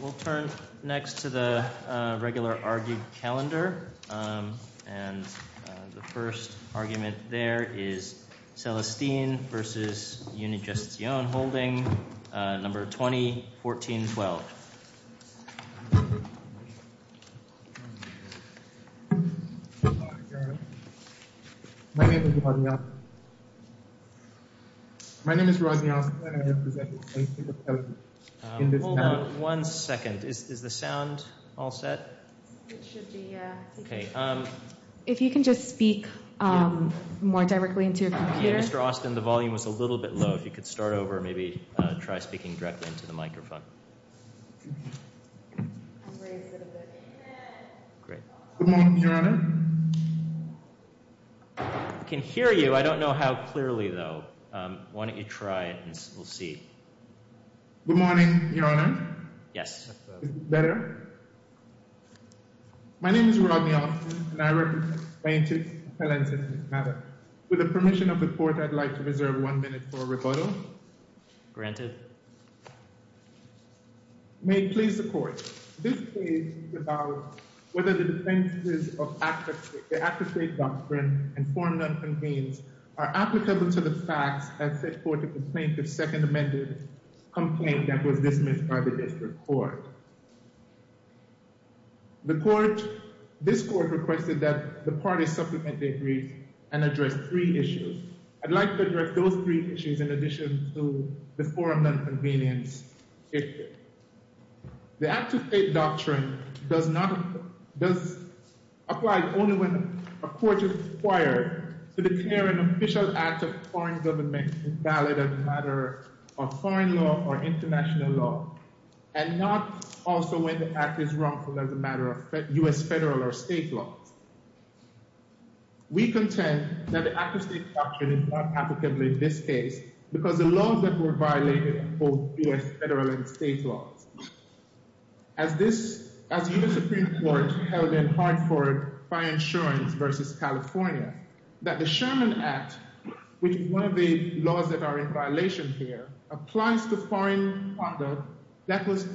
We'll turn next to the regular argued calendar. And the first argument there is Celestin v. Unigestion holding number 2014-12. My name is Rodney Austin. My name is Rodney Austin and I am presenting Hold on one second. Is the sound all set? It should be, yeah. Okay. If you can just speak more directly into your computer. Mr. Austin, the volume was a little bit low. If you could start over and maybe try speaking directly into the microphone. Great. Good morning, your honor. I can hear you. I don't know how clearly though. Why don't you try it and we'll see. Good morning, your honor. Yes. My name is Rodney Austin and I represent plaintiff Celestin v. Mather. With the permission of the court, I'd like to reserve one minute for a rebuttal. Granted. May it please the court. This case is about whether the defenses of the Act of State Doctrine and form that convenes are applicable to the facts as set forth in the plaintiff's second amended complaint that was dismissed by the district court. The court, this court requested that the parties supplement the agreed and address three issues. I'd like to address those three issues in addition to the four of them convenience. The Act of State Doctrine does not, does apply only when a court is required to declare an official act of foreign government valid as a matter of foreign law or international law and not also when the act is wrongful as a matter of U.S. federal or state laws. We contend that the Act of State Doctrine is not applicable in this case because the laws that were violated hold U.S. federal and state laws. As this, as U.S. Supreme Court held in Hartford by insurance versus California, that the Sherman Act, which is one of the laws that are in violation here, applies to foreign conduct that was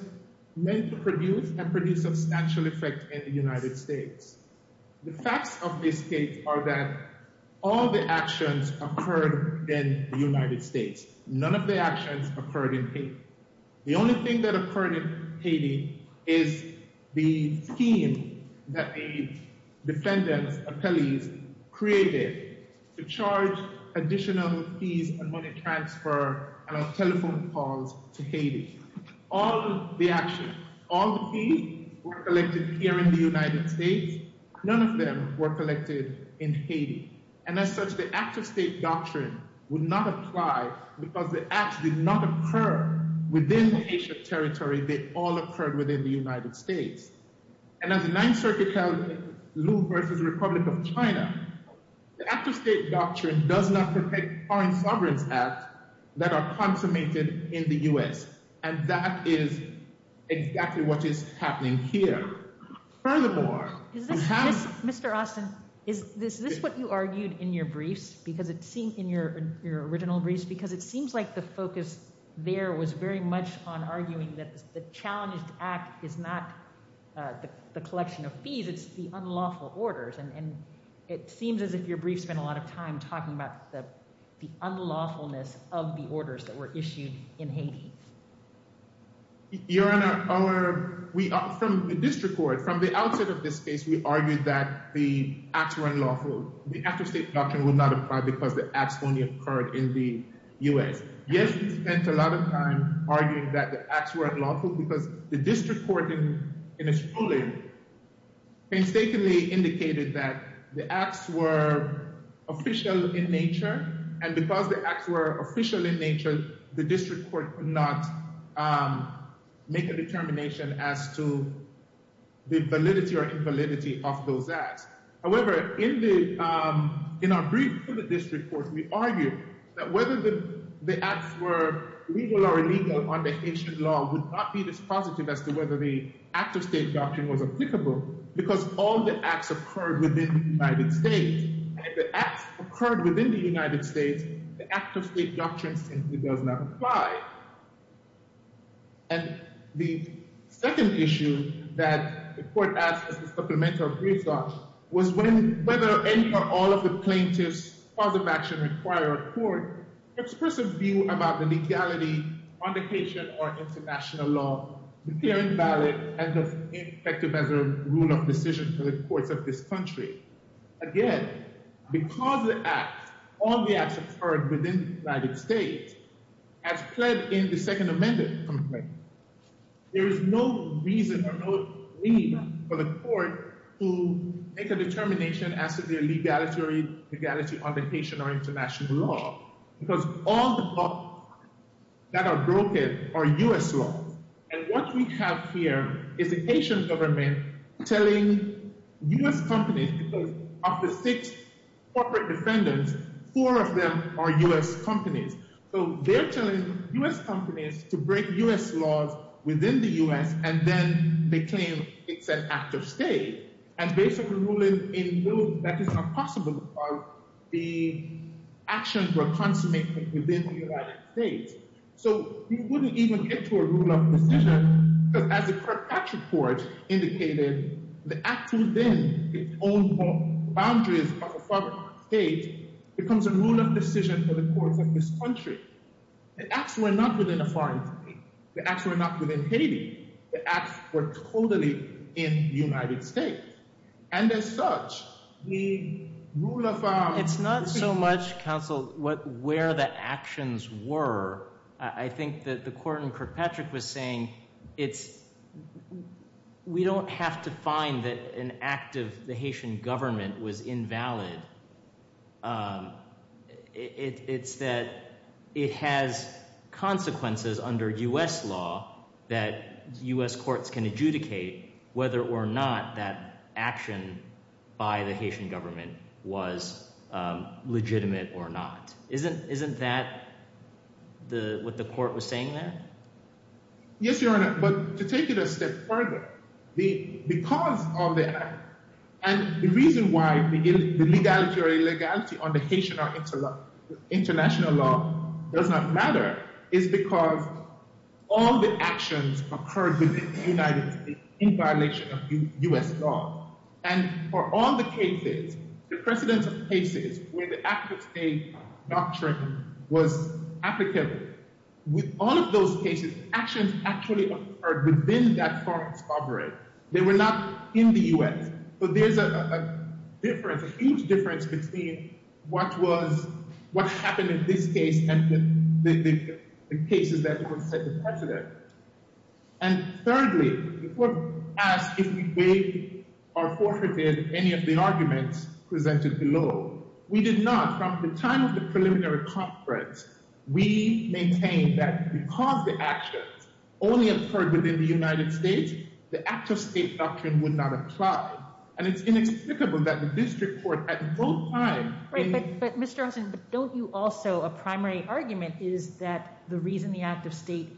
meant to produce and produce a substantial effect in the United States. The facts of this case are that all the actions occurred in the United States. The only thing that occurred in Haiti is the scheme that the defendants, appellees, created to charge additional fees and money transfer on telephone calls to Haiti. All the actions, all the fees were collected here in the United States. None of them were collected in Haiti. And as such, the Act of State Doctrine would not apply because the acts did not occur within Haitian territory. They all occurred within the United States. And as the Ninth Circuit held in Liu versus the Republic of China, the Act of State Doctrine does not protect foreign sovereigns' acts that are consummated in the U.S. And that is exactly what is happening here. Furthermore, we have- Mr. Austin, is this what you argued in your briefs, because it seemed, in your original briefs, because it seems like the focus there was very much on arguing that the challenged act is not the collection of fees, it's the unlawful orders. And it seems as if your brief spent a lot of time talking about the unlawfulness of the orders that were issued in Haiti. Your Honor, from the district court, from the outset of this case, we argued that the acts were unlawful. The Act of State Doctrine would not apply because the acts only occurred in the U.S. Yes, we spent a lot of time arguing that the acts were unlawful, because the district court, in its ruling, painstakingly indicated that the acts were official in nature. And because the acts were official in nature, the district court could not make a determination as to the validity or invalidity of those acts. However, in our brief for the district court, we argued that whether the acts were legal or illegal under Haitian law would not be dispositive as to whether the Act of State Doctrine was applicable, because all the acts occurred within the United States. And if the acts occurred within the United States, the Act of State Doctrine simply does not apply. And the second issue that the court asked as a supplemental brief thought was whether any or all of the plaintiffs' cause of action required a court to express a view about the legality on the Haitian or international law to declare invalid and effective as a rule of decision to the courts of this country. Again, because the acts, all the acts occurred within the United States, as pled in the second amended complaint, there is no reason or no need for the court to make a determination as to their legality on the Haitian or international law, because all the laws that are broken are U.S. laws. And what we have here is the Haitian government telling U.S. companies, because of the six corporate defendants, four of them are U.S. companies. So they're telling U.S. companies to break U.S. laws within the U.S. and then they claim it's an Act of State and basically ruling in lieu that is not possible of the actions were consummated within the United States. So you wouldn't even get to a rule of decision because as the Kirkpatrick Court indicated, the act within its own boundaries of a foreign state becomes a rule of decision for the courts of this country. The acts were not within a foreign country. The acts were not within Haiti. The acts were totally in the United States. And as such, the rule of our- It's not so much, counsel, where the actions were. I think that the court in Kirkpatrick was saying, we don't have to find that an act of the Haitian government was invalid. It's that it has consequences under U.S. law that U.S. courts can adjudicate whether or not that action by the Haitian government was legitimate or not. Isn't that what the court was saying there? Yes, Your Honor, but to take it a step further, because of the act, and the reason why the legality or illegality on the Haitian or international law does not matter is because all the actions occurred within the United States in violation of U.S. law. And for all the cases, the precedence of cases where the active state doctrine was applicable, with all of those cases, actions actually occurred within that foreign sovereign. They were not in the U.S. So there's a difference, a huge difference between what happened in this case and the cases that were set in precedent. And thirdly, the court asked if we gave or forfeited any of the arguments presented below. We did not. From the time of the preliminary conference, we maintained that because the actions only occurred within the United States, the active state doctrine would not apply. And it's inexplicable that the district court at no time- But Mr. Hudson, don't you also, a primary argument is that the reason the active state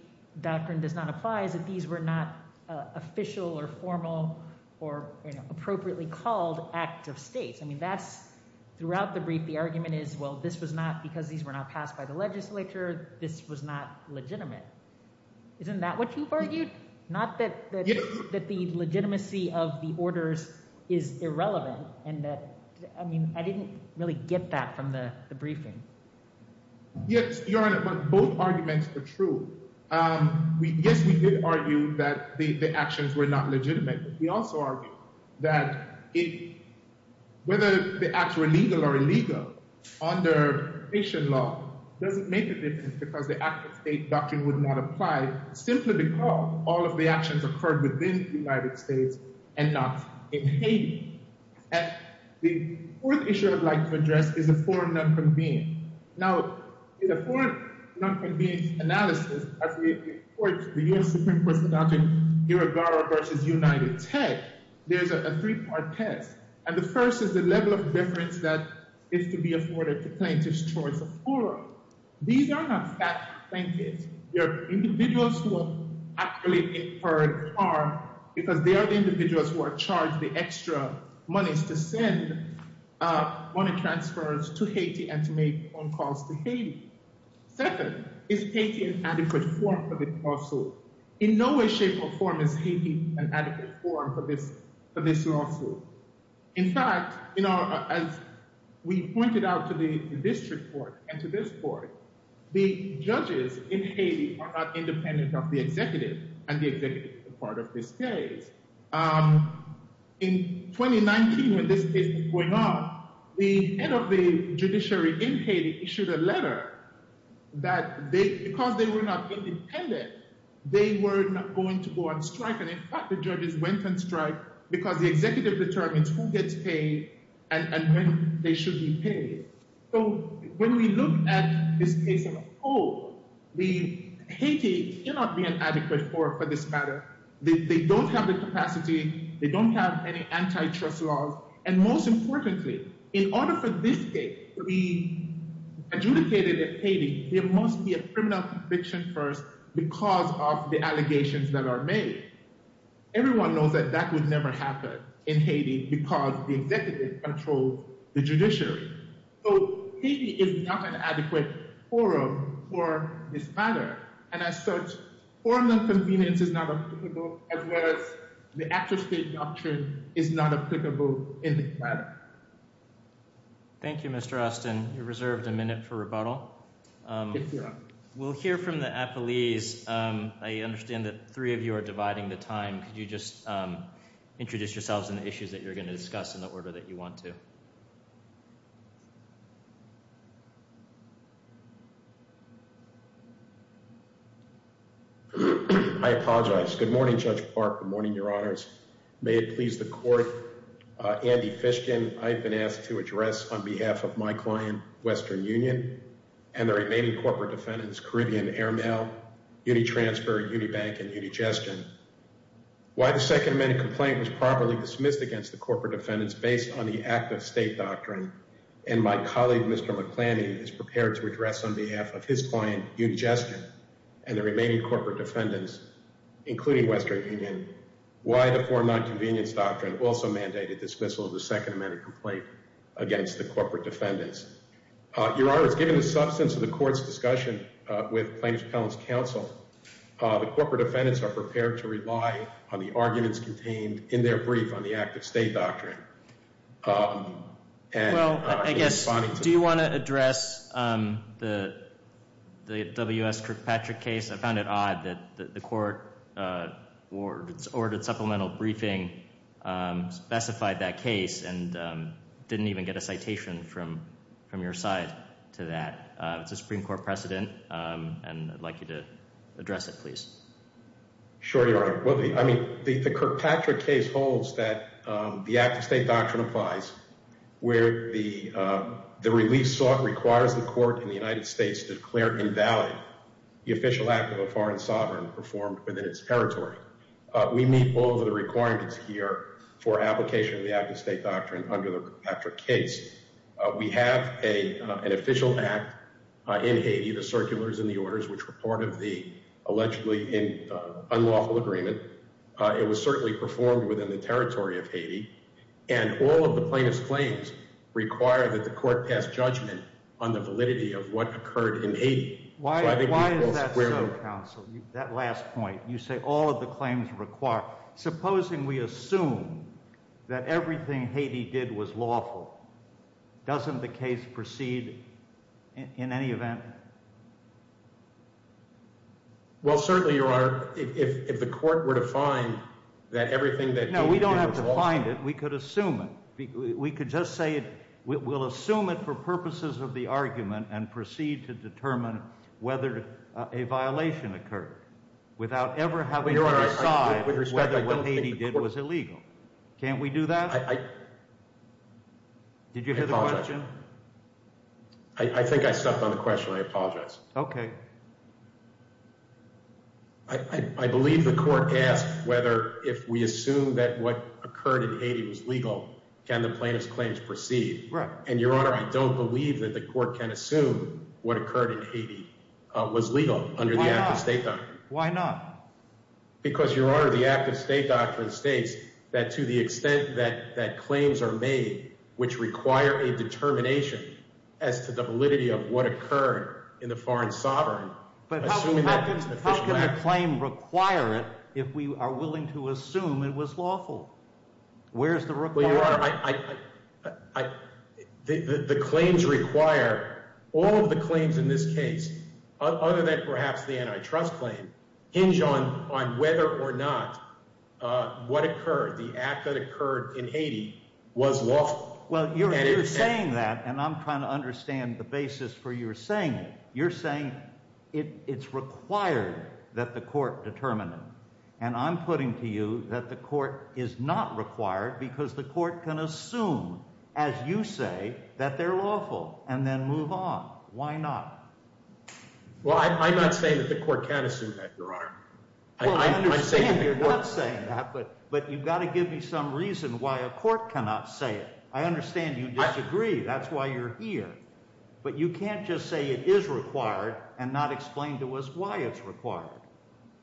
doctrine does not apply is that these were not official or formal or appropriately called active states. I mean, that's, throughout the brief, the argument is, well, this was not, because these were not passed by the legislature, this was not legitimate. Isn't that what you've argued? Not that the legitimacy of the orders is irrelevant, and that, I mean, I didn't really get that from the briefing. Yes, Your Honor, but both arguments are true. Yes, we did argue that the actions were not legitimate. We also argued that whether the acts were legal or illegal under Haitian law doesn't make a difference because the active state doctrine would not apply simply because all of the actions occurred within the United States and not in Haiti. And the fourth issue I'd like to address is a forum not convened. Now, in a forum not convened analysis, as we approach the U.S. Supreme Court's doctrine, Irigaro versus United Tech, there's a three-part test. And the first is the level of deference that is to be afforded to plaintiffs' choice of forum. These are not fat plaintiffs. They're individuals who are actually incurred harm because they are the individuals who are charged the extra monies to send money transfers to Haiti and to make phone calls to Haiti. Second, is Haiti an adequate forum for this lawsuit? In no way, shape, or form is Haiti an adequate forum for this lawsuit. In fact, as we pointed out to the district court and to this court, the judges in Haiti are not independent of the executive and the executive is a part of this case. In 2019, when this case was going on, the head of the judiciary in Haiti issued a letter that because they were not independent, they were not going to go on strike. And in fact, the judges went on strike because the executive determines who gets paid and when they should be paid. So when we look at this case as a whole, Haiti cannot be an adequate forum for this matter. They don't have the capacity. They don't have any antitrust laws. And most importantly, in order for this case to be adjudicated in Haiti, there must be a criminal conviction first because of the allegations that are made. Everyone knows that that would never happen in Haiti because the executive controls the judiciary. So Haiti is not an adequate forum for this matter. And as such, formal convenience is not applicable as well as the actual state doctrine is not applicable in this matter. Thank you, Mr. Austin. You're reserved a minute for rebuttal. We'll hear from the appellees. I understand that three of you are dividing the time. Could you just introduce yourselves and the issues that you're gonna discuss in the order that you want to? I apologize. Good morning, Judge Park. Good morning, your honors. May it please the court. Andy Fishkin, I've been asked to address on behalf of my client, Western Union, and the remaining corporate defendants, Caribbean Airmail, Unitransfer, Unibank, and Unigestion. Why the Second Amendment complaint was properly dismissed against the corporate defendants based on the act of state doctrine. And my colleague, Mr. McLaney, is prepared to address on behalf of his client, Unigestion, and the remaining corporate defendants, including Western Union, why the foreign nonconvenience doctrine also mandated dismissal of the Second Amendment complaint against the corporate defendants. Your honors, given the substance of the court's discussion with plaintiff's appellant's counsel, the corporate defendants are prepared to rely on the arguments contained in their brief on the act of state doctrine. Well, I guess, do you want to address the W.S. Kirkpatrick case? I found it odd that the court ordered supplemental briefing specified that case, and didn't even get a citation from your side to that. It's a Supreme Court precedent, and I'd like you to address it, please. Sure, your honor. I mean, the Kirkpatrick case holds that the act of state doctrine applies where the release sought requires the court in the United States to declare invalid the official act of a foreign sovereign performed within its territory. We meet all of the requirements here for application of the act of state doctrine under the Kirkpatrick case. We have an official act in Haiti that circulars in the orders, which were part of the allegedly unlawful agreement. It was certainly performed within the territory of Haiti, and all of the plaintiff's claims require that the court pass judgment on the validity of what occurred in Haiti. Why is that so, counsel? That last point, you say all of the claims require. Supposing we assume that everything Haiti did was lawful, doesn't the case proceed in any event? Well, certainly, your honor, if the court were to find that everything that- No, we don't have to find it. We could assume it. We could just say we'll assume it for purposes of the argument and proceed to determine whether a violation occurred without ever having to decide whether what Haiti did was illegal. Can't we do that? Did you hear the question? I think I stepped on the question. I apologize. Okay. I believe the court asked whether if we assume that what occurred in Haiti was legal, can the plaintiff's claims proceed. Right. And your honor, I don't believe that the court can assume what occurred in Haiti was legal under the active state doctrine. Why not? Because your honor, the active state doctrine states that to the extent that claims are made, which require a determination as to the validity of what occurred in the foreign sovereign- But how can the claim require it if we are willing to assume it was lawful? Where's the requirement? Your honor, the claims require, all of the claims in this case, other than perhaps the antitrust claim, hinge on whether or not what occurred, the act that occurred in Haiti was lawful. Well, you're saying that, and I'm trying to understand the basis for your saying it. You're saying it's required that the court determine it. And I'm putting to you that the court is not required because the court can assume, as you say, that they're lawful and then move on. Why not? Well, I'm not saying that the court can assume that, your honor. I'm saying that- Well, I understand you're not saying that, but you've got to give me some reason why a court cannot say it. I understand you disagree. That's why you're here. But you can't just say it is required and not explain to us why it's required.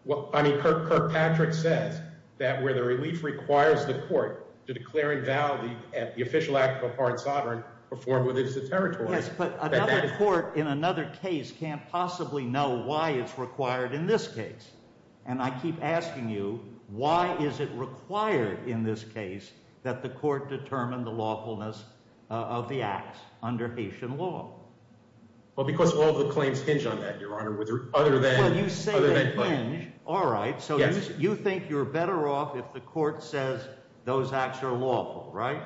Well, I mean, Kirkpatrick says that where the relief requires the court to declare and vow the official act of a foreign sovereign performed within its territory. Yes, but another court in another case can't possibly know why it's required in this case. And I keep asking you, why is it required in this case that the court determine the lawfulness of the acts under Haitian law? Well, because all the claims hinge on that, your honor, with other than- Well, you say they hinge. All right, so you think you're better off if the court says those acts are lawful, right?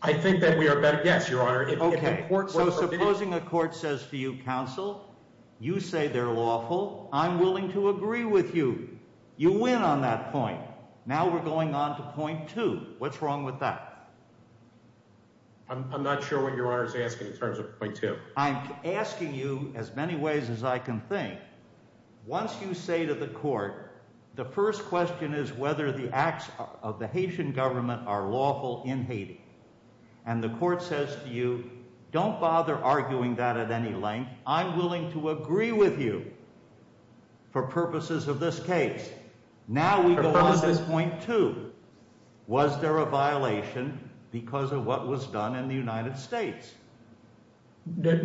I think that we are better, yes, your honor. Okay, so supposing a court says to you, counsel, you say they're lawful. I'm willing to agree with you. You win on that point. Now we're going on to point two. What's wrong with that? I'm not sure what your honor is asking in terms of point two. I'm asking you as many ways as I can think. Once you say to the court, the first question is whether the acts of the Haitian government are lawful in Haiti. And the court says to you, don't bother arguing that at any length. I'm willing to agree with you for purposes of this case. Now we go on to point two. Was there a violation because of what was done in the United States? No,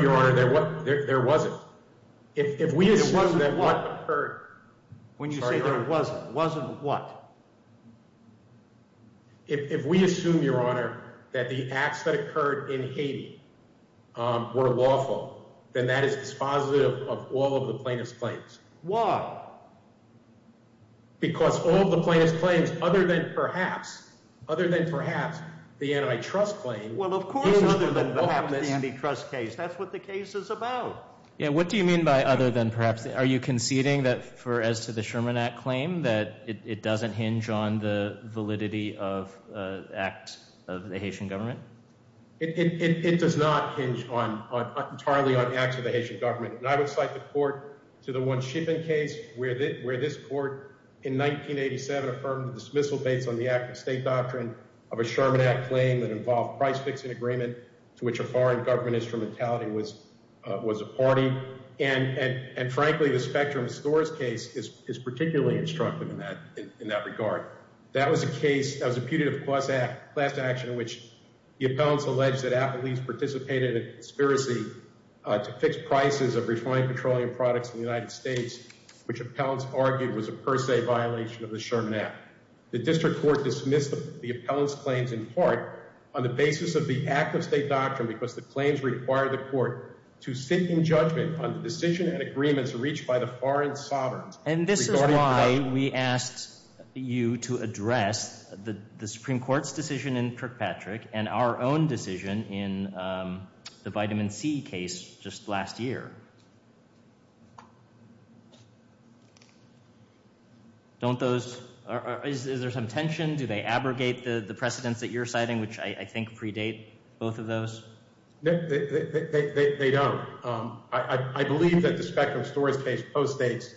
your honor, there wasn't. If we assume that what occurred- If we assume, your honor, that the acts that occurred in Haiti were lawful, then that is dispositive of all of the plaintiff's claims. Why? Because all of the plaintiff's claims, other than perhaps, other than perhaps, the anti-trust claim- Well, of course other than perhaps the anti-trust case. That's what the case is about. Yeah, what do you mean by other than perhaps? Are you conceding that for as to the Sherman Act claim that it doesn't hinge on the validity of acts of the Haitian government? It does not hinge entirely on acts of the Haitian government. And I would cite the court to the one shipping case where this court in 1987 affirmed the dismissal based on the act of state doctrine of a Sherman Act claim that involved price fixing agreement to which a foreign government instrumentality was a party. And frankly, the spectrum stores case is particularly instructive in that regard. That was a case, that was a putative class action in which the appellants alleged that Applebee's participated in a conspiracy to fix prices of refined petroleum products in the United States, which appellants argued was a per se violation of the Sherman Act. The district court dismissed the appellant's claims in part on the basis of the act of state doctrine because the claims required the court to sit in judgment on the decision and agreements reached by the foreign sovereigns. And this is why we asked you to address the Supreme Court's decision in Kirkpatrick and our own decision in the vitamin C case just last year. Don't those, is there some tension? Do they abrogate the precedents that you're citing, which I think predate both of those? No, they don't. I believe that the spectrum stores case postdates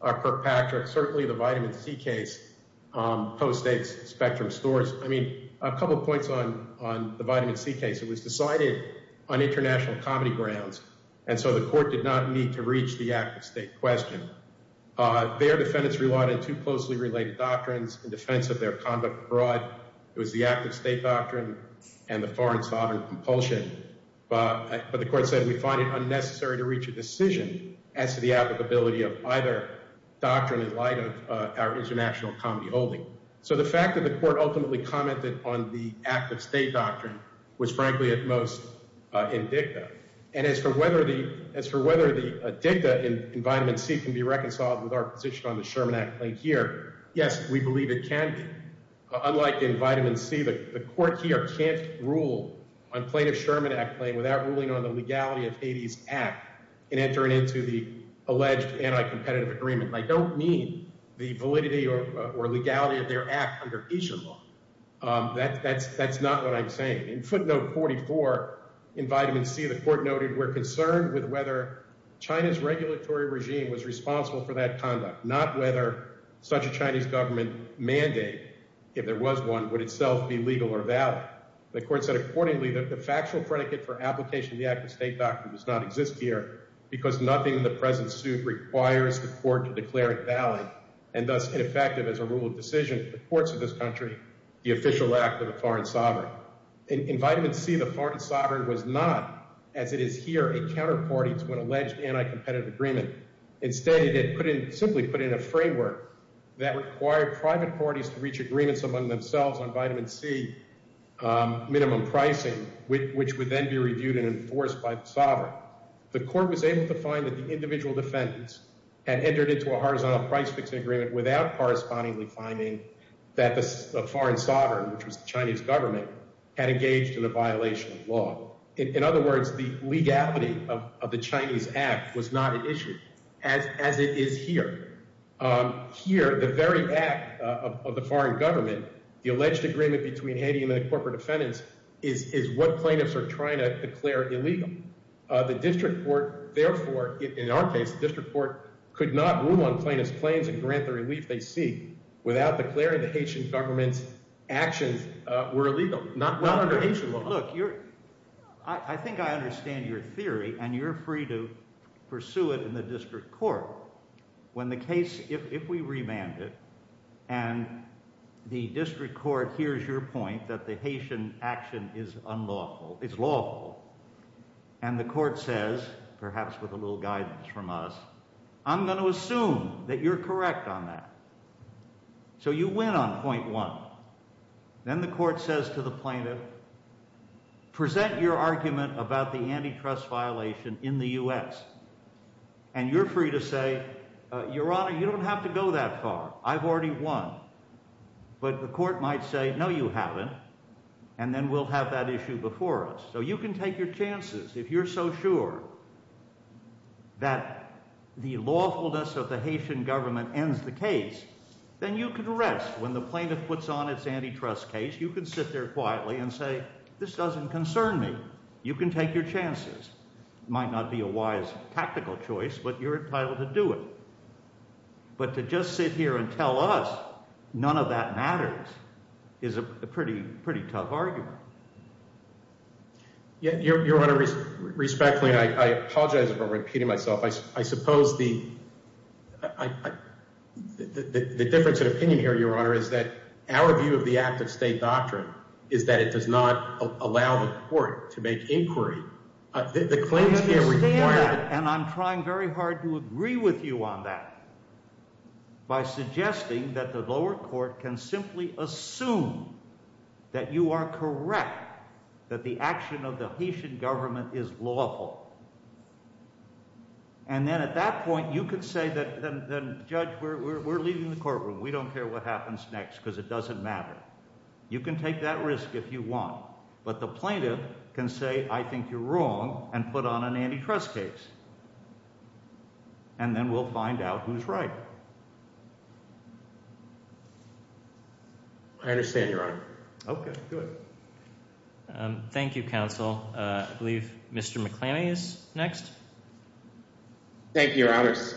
Kirkpatrick, certainly the vitamin C case postdates spectrum stores. I mean, a couple of points on the vitamin C case. It was decided on international comedy grounds. And so the court did not need to reach the act of state question. Their defendants relied on two closely related doctrines in defense of their conduct abroad. It was the act of state doctrine and the foreign sovereign compulsion. But the court said, we find it unnecessary to reach a decision as to the applicability of either doctrine in light of our international comedy holding. So the fact that the court ultimately commented on the act of state doctrine was frankly at most in dicta. And as for whether the dicta in vitamin C can be reconciled with our position on the Sherman Act claim here, yes, we believe it can be. Unlike in vitamin C, the court here can't rule on plaintiff Sherman Act claim without ruling on the legality of Haiti's act and entering into the alleged anti-competitive agreement. I don't mean the validity or legality of their act under Haitian law. That's not what I'm saying. In footnote 44 in vitamin C, the court noted, we're concerned with whether China's regulatory regime was responsible for that conduct, not whether such a Chinese government mandate, if there was one, would itself be legal or valid. The court said accordingly, that the factual predicate for application of the act of state doctrine does not exist here because nothing in the present suit requires the court to declare it valid and thus ineffective as a rule of decision to the courts of this country, the official act of the foreign sovereign. In vitamin C, the foreign sovereign was not, as it is here, a counterparty to an alleged anti-competitive agreement. Instead, it simply put in a framework that required private parties to reach agreements among themselves on vitamin C minimum pricing, which would then be reviewed and enforced by the sovereign. The court was able to find that the individual defendants had entered into a horizontal price fixing agreement without correspondingly finding that the foreign sovereign, which was the Chinese government, had engaged in a violation of law. In other words, the legality of the Chinese act was not an issue as it is here. Here, the very act of the foreign government, the alleged agreement between Haiti and the corporate defendants is what plaintiffs are trying to declare illegal. The district court, therefore, in our case, the district court could not rule on plaintiff's claims and grant the relief they seek without declaring the Haitian government's actions were illegal, not under Haitian law. Look, I think I understand your theory and you're free to pursue it in the district court. When the case, if we remand it, and the district court hears your point that the Haitian action is unlawful, it's lawful, and the court says, perhaps with a little guidance from us, I'm going to assume that you're correct on that. So you win on point one. Then the court says to the plaintiff, present your argument about the antitrust violation in the U.S. And you're free to say, your honor, you don't have to go that far. I've already won. But the court might say, no, you haven't. And then we'll have that issue before us. So you can take your chances. If you're so sure that the lawfulness of the Haitian government ends the case, then you can rest. When the plaintiff puts on its antitrust case, you can sit there quietly and say, this doesn't concern me. You can take your chances. Might not be a wise tactical choice, but you're entitled to do it. But to just sit here and tell us none of that matters is a pretty tough argument. Yeah, your honor, respectfully, and I apologize for repeating myself. I suppose the difference of opinion here, your honor, is that our view of the act of state doctrine is that it does not allow the court to make inquiry. The claims can't require- I understand that, and I'm trying very hard to agree with you on that by suggesting that the lower court can simply assume that you are correct, that the action of the Haitian government is lawful. And then at that point, you could say that, judge, we're leaving the courtroom. We don't care what happens next, because it doesn't matter. You can take that risk if you want. But the plaintiff can say, I think you're wrong, and put on an antitrust case. And then we'll find out who's right. I understand, your honor. Okay, good. Thank you, counsel. I believe Mr. McClammy is next. Thank you, your honors.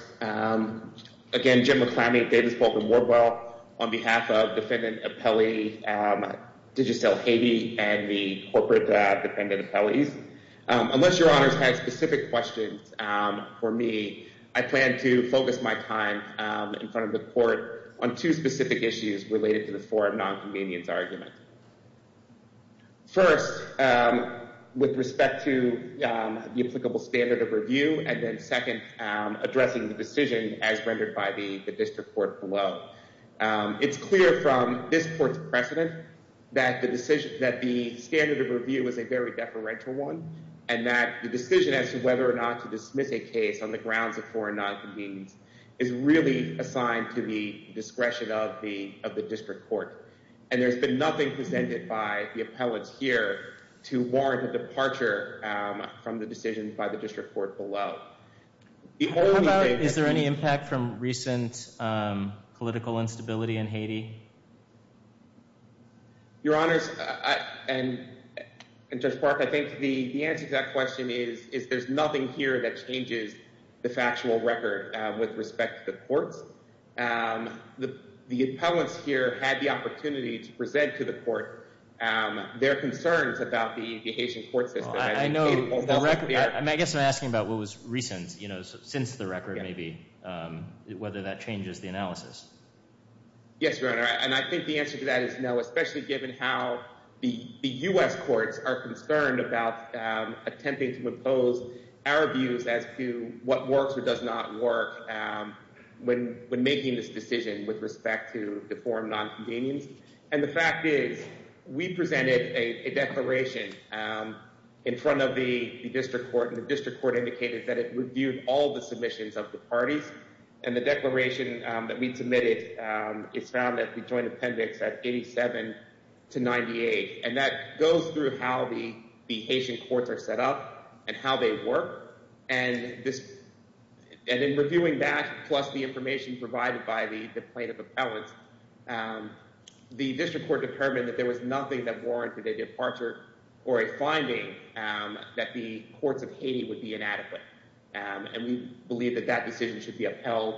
Again, Jim McClammy, Davis Polk & Wardwell, on behalf of defendant appellee Digicel Haiti and the corporate defendant appellees. Unless your honors has specific questions for me, I plan to focus my time in front of the court on two specific issues related to the four of non-convenience argument. First, with respect to the applicable standard of review, and then second, addressing the decision as rendered by the district court below. It's clear from this court's precedent that the standard of review is a very deferential one, and that the decision as to whether or not to dismiss a case on the grounds of four of non-convenience is really assigned to the discretion of the district court. And there's been nothing presented by the appellants here to warrant a departure from the decision by the district court below. The only thing- How about, is there any impact from recent political instability in Haiti? Your honors, and Judge Park, I think the answer to that question is there's nothing here that changes the factual record with respect to the courts. The appellants here had the opportunity to present to the court their concerns about the Haitian court system. I think- I know, I guess I'm asking about what was recent, since the record maybe, whether that changes the analysis. Yes, your honor. And I think the answer to that is no, especially given how the U.S. courts are concerned about attempting to impose our views as to what works or does not work when making this decision with respect to the four of non-convenience. And the fact is, we presented a declaration in front of the district court, and the district court indicated that it reviewed all the submissions of the parties. And the declaration that we submitted is found at the joint appendix at 87 to 98. And that goes through how the Haitian courts are set up and how they work. And in reviewing that, plus the information provided by the plaintiff appellants, the district court determined that there was nothing that warranted a departure or a finding that the courts of Haiti would be inadequate. And we believe that that decision should be upheld.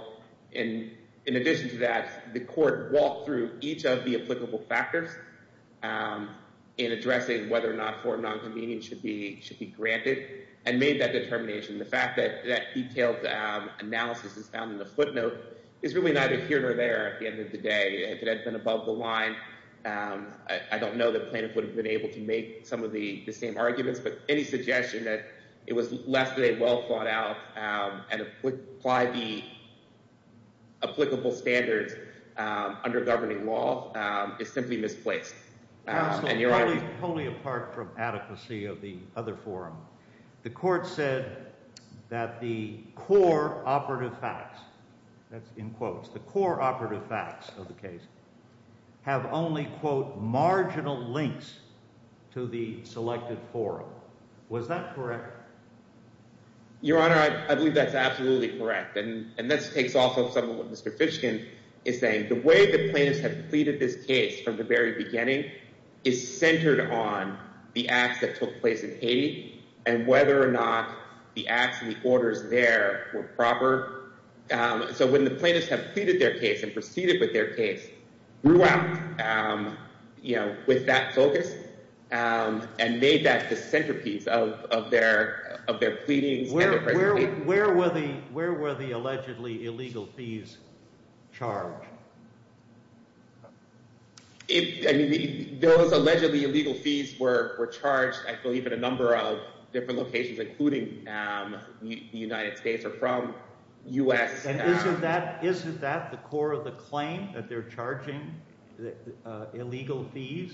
And in addition to that, the court walked through each of the applicable factors in addressing whether or not four of non-convenience should be granted and made that determination. The fact that that detailed analysis is found in the footnote is really neither here nor there at the end of the day. If it had been above the line, I don't know that plaintiff would have been able to make some of the same arguments, but any suggestion that it was less than a well thought out and apply the applicable standards under governing law is simply misplaced. And Your Honor- Absolutely, totally apart from adequacy of the other forum. The court said that the core operative facts, that's in quotes, the core operative facts of the case have only quote, marginal links to the selected forum. Was that correct? Your Honor, I believe that's absolutely correct. And this takes off of some of what Mr. Fishkin is saying. The way the plaintiffs have pleaded this case from the very beginning is centered on the acts that took place in Haiti and whether or not the acts and the orders there were proper. So when the plaintiffs have pleaded their case and proceeded with their case, grew out with that focus and made that the centerpiece of their pleadings and their presentation- Where were the allegedly illegal fees charged? Those allegedly illegal fees were charged, I believe, in a number of different locations, including the United States or from US- And isn't that the core of the claim that they're charging illegal fees?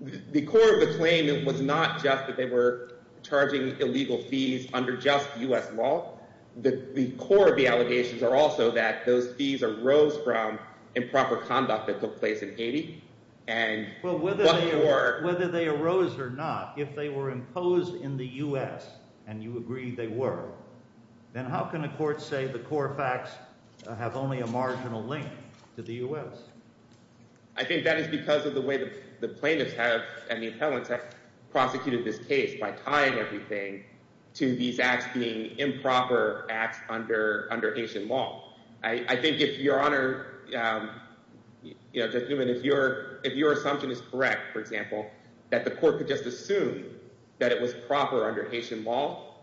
The core of the claim, it was not just that they were charging illegal fees under just US law. The core of the allegations are also that those fees arose from improper conduct that took place in Haiti and- Well, whether they arose or not, if they were imposed in the US and you agree they were, then how can a court say the core facts have only a marginal link to the US? I think that is because of the way the plaintiffs have, and the appellants have, prosecuted this case by tying everything to these acts being improper acts under Haitian law. I think if your Honor, if your assumption is correct, for example, that the court could just assume that it was proper under Haitian law,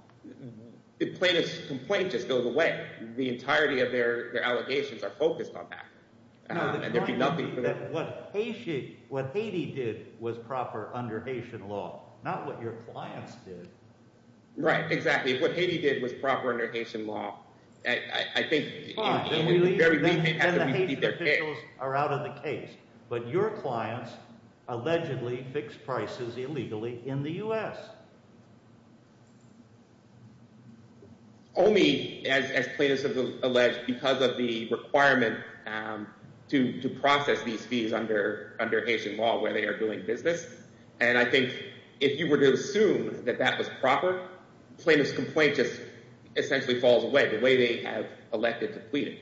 the plaintiff's complaint just goes away. The entirety of their allegations are focused on that. And there'd be nothing for them- No, the point is that what Haiti did was proper under Haitian law, not what your clients did. Right, exactly. What Haiti did was proper under Haitian law. I think- Fine, then the Haitian officials are out of the case. But your clients allegedly fixed prices illegally in the US. Only, as plaintiffs have alleged, because of the requirement to process these fees under Haitian law where they are doing business. And I think if you were to assume that that was proper, plaintiff's complaint just essentially falls away the way they have elected to plead it.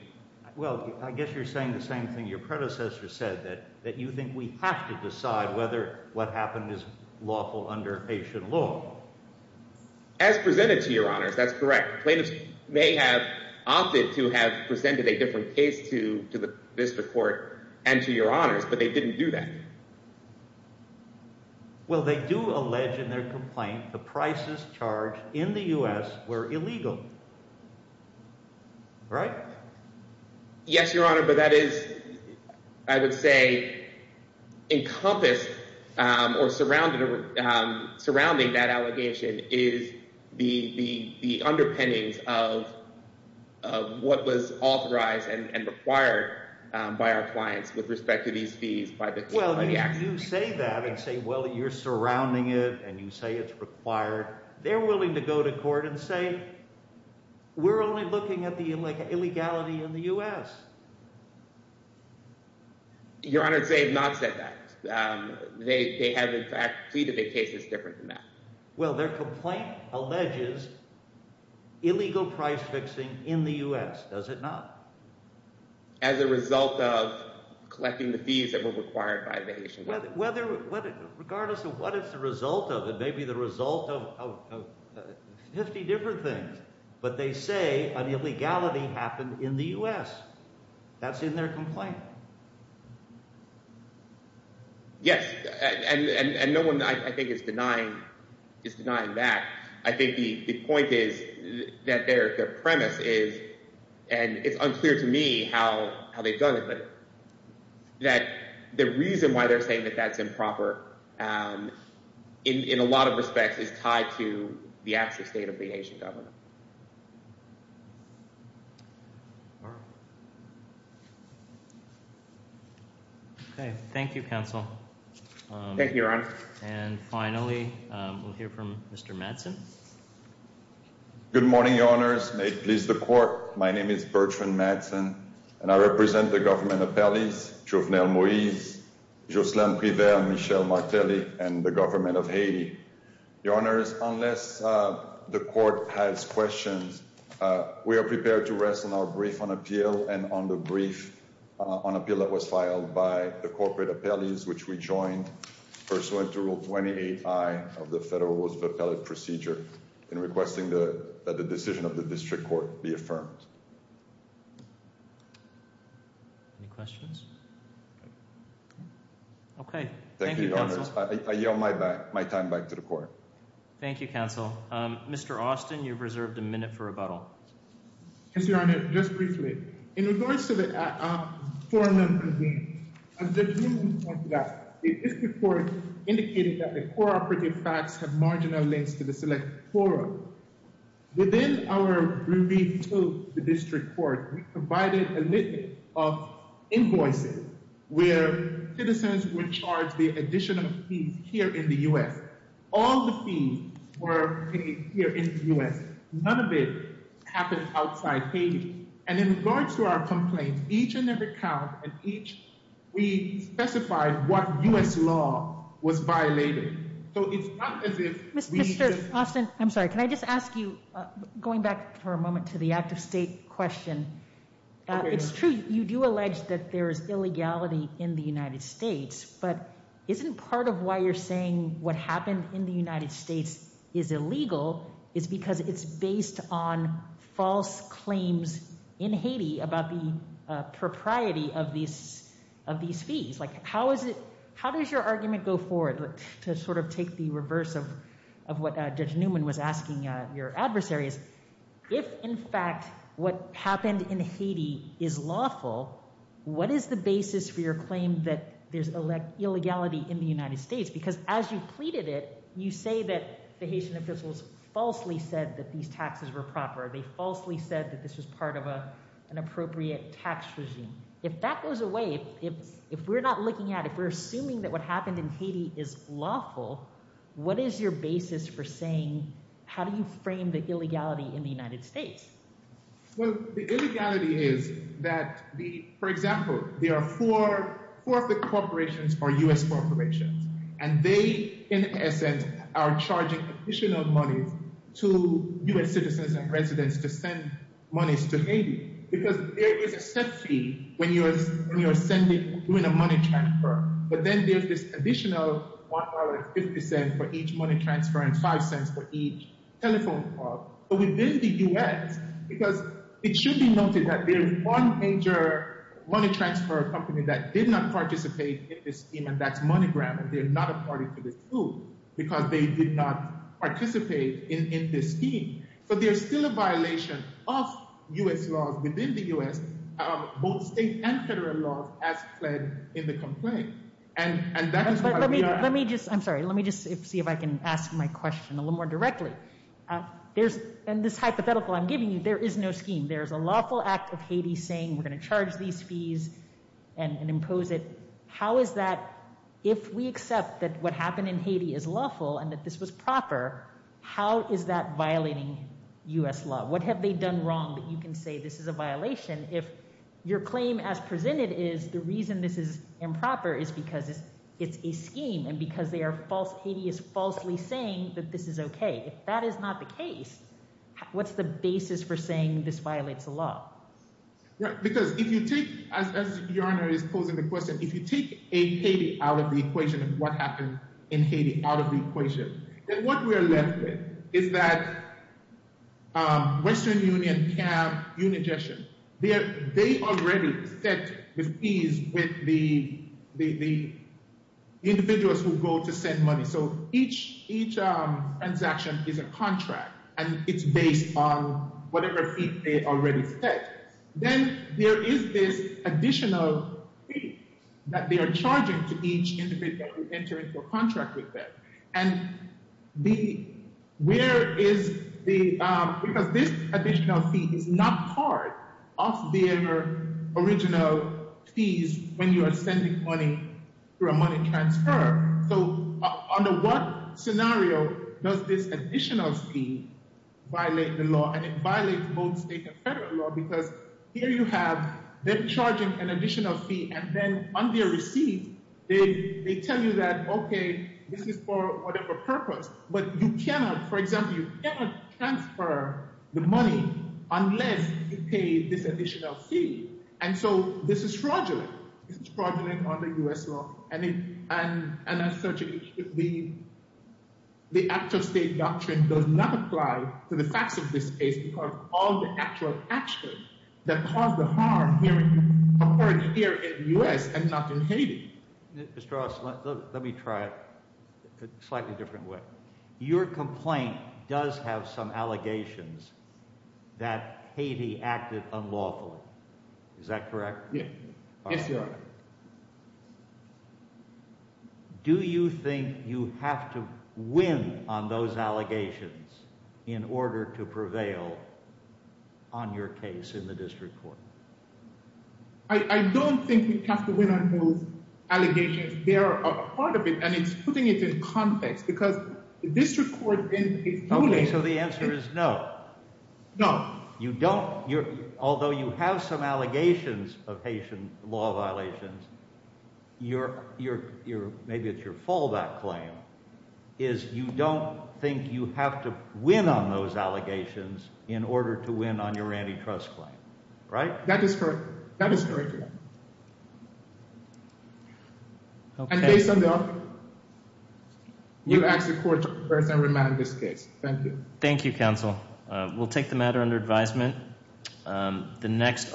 Well, I guess you're saying the same thing your predecessor said, that you think we have to decide whether what happened is lawful under Haitian law. As presented to your Honors, that's correct. Plaintiffs may have opted to have presented a different case to the District Court and to your Honors, but they didn't do that. Well, they do allege in their complaint the prices charged in the US were illegal. Right? Yes, your Honor, but that is, I would say, encompassed or surrounding that allegation is the underpinnings of what was authorized and required by our clients with respect to these fees by the court. Well, you say that and say, well, you're surrounding it and you say it's required. They're willing to go to court and say, we're only looking at the illegality in the US. Your Honor, they have not said that. They have, in fact, pleaded the case is different than that. Well, their complaint alleges illegal price fixing in the US, does it not? As a result of collecting the fees that were required by the Haitian government. Regardless of what is the result of it, maybe the result of 50 different things, but they say an illegality happened in the US. That's in their complaint. Yes, and no one, I think, is denying that. I think the point is that their premise is, and it's unclear to me how they've done it, but that the reason why they're saying that that's improper in a lot of respects is tied to the actual state of the Haitian government. Thank you. Okay, thank you, counsel. Thank you, Your Honor. And finally, we'll hear from Mr. Madsen. Good morning, Your Honors. May it please the court. My name is Bertrand Madsen, and I represent the government of Paris, Jovenel Moïse, Jocelyne Priver, Michel Martelly, and the government of Haiti. Your Honors, unless the court has questions, we are prepared to rest on our brief on appeal and on the brief on appeal that was filed by the corporate appellees, which we joined pursuant to Rule 28-I of the Federal Rules of Appellate Procedure in requesting that the decision of the district court be affirmed. Any questions? Okay, thank you, counsel. Thank you, Your Honors. I yell my time back to the court. Thank you, counsel. Mr. Austin, you've reserved a minute for rebuttal. Yes, Your Honor, just briefly. In regards to the forum that convened, as the jury pointed out, the district court indicated that the cooperative facts have marginal links to the selected forum. Within our brief to the district court, we provided a list of invoices where citizens were charged the additional fees here in the U.S. All the fees were paid here in the U.S. None of it happened outside Haiti. And in regards to our complaints, each and every count and each, we specified what U.S. law was violated. So it's not as if we just- Mr. Austin, I'm sorry, can I just ask you, going back for a moment to the active state question, it's true, you do allege that there is illegality in the United States, but isn't part of why you're saying what happened in the United States is illegal is because it's based on false claims in Haiti about the propriety of these fees? Like, how does your argument go forward to sort of take the reverse of what Judge Newman was asking your adversaries? If, in fact, what happened in Haiti is lawful, what is the basis for your claim that there's illegality in the United States? Because as you pleaded it, you say that the Haitian officials falsely said that these taxes were proper. They falsely said that this was part of an appropriate tax regime. If that goes away, if we're not looking at, if we're assuming that what happened in Haiti is lawful, what is your basis for saying, how do you frame the illegality in the United States? Well, the illegality is that, for example, there are four of the corporations are U.S. corporations, and they, in essence, are charging additional money to U.S. citizens and residents to send monies to Haiti because there is a set fee when you're doing a money transfer, but then there's this additional $1.50 for each money transfer and $0.05 for each telephone call. But within the U.S., because it should be noted that there's one major money transfer company that did not participate in this scheme, and that's MoneyGram, and they're not a party to this rule because they did not participate in this scheme. So there's still a violation of U.S. laws within the U.S., both state and federal laws, as fled in the complaint. And that is why we are- Let me just, I'm sorry, let me just see if I can ask my question a little more directly. In this hypothetical I'm giving you, there is no scheme. There is a lawful act of Haiti saying we're gonna charge these fees and impose it. How is that, if we accept that what happened in Haiti is lawful and that this was proper, how is that violating U.S. law? What have they done wrong that you can say this is a violation if your claim as presented is the reason this is improper is because it's a scheme and because they are false, Haiti is falsely saying that this is okay. If that is not the case, what's the basis for saying this violates the law? Right, because if you take, as Your Honor is posing the question, if you take a Haiti out of the equation of what happened in Haiti out of the equation, then what we are left with is that Western Union, CAB, Unigestion, they already set the fees with the individuals who go to send money. So each transaction is a contract and it's based on whatever fee they already set. Then there is this additional fee that they are charging to each individual who enter into a contract with them. And where is the, because this additional fee is not part of their original fees when you are sending money through a money transfer. So under what scenario does this additional fee violate the law? And it violates both state and federal law because here you have, they're charging an additional fee and then when they receive, they tell you that, okay, this is for whatever purpose, but you cannot, for example, you cannot transfer the money unless you pay this additional fee. And so this is fraudulent. This is fraudulent under US law. And as such, the actual state doctrine does not apply to the facts of this case because all the actual actions that cause the harm here in the US and not in Haiti. Mr. Ross, let me try it a slightly different way. Your complaint does have some allegations that Haiti acted unlawfully. Is that correct? Yeah. Yes, Your Honor. Do you think you have to win on those allegations in order to prevail on your case in the district court? I don't think we have to win on those allegations. There are a part of it and it's putting it in context because the district court in Haiti- Okay, so the answer is no. No. You don't. Although you have some allegations of Haitian law violations, maybe it's your fallback claim, is you don't think you have to win on those allegations in order to win on your antitrust claim, right? That is correct. That is correct, Your Honor. Okay. Mr. Delphi, you ask the court to prepare and remand this case. Thank you. Thank you, counsel. We'll take the matter under advisement. The next-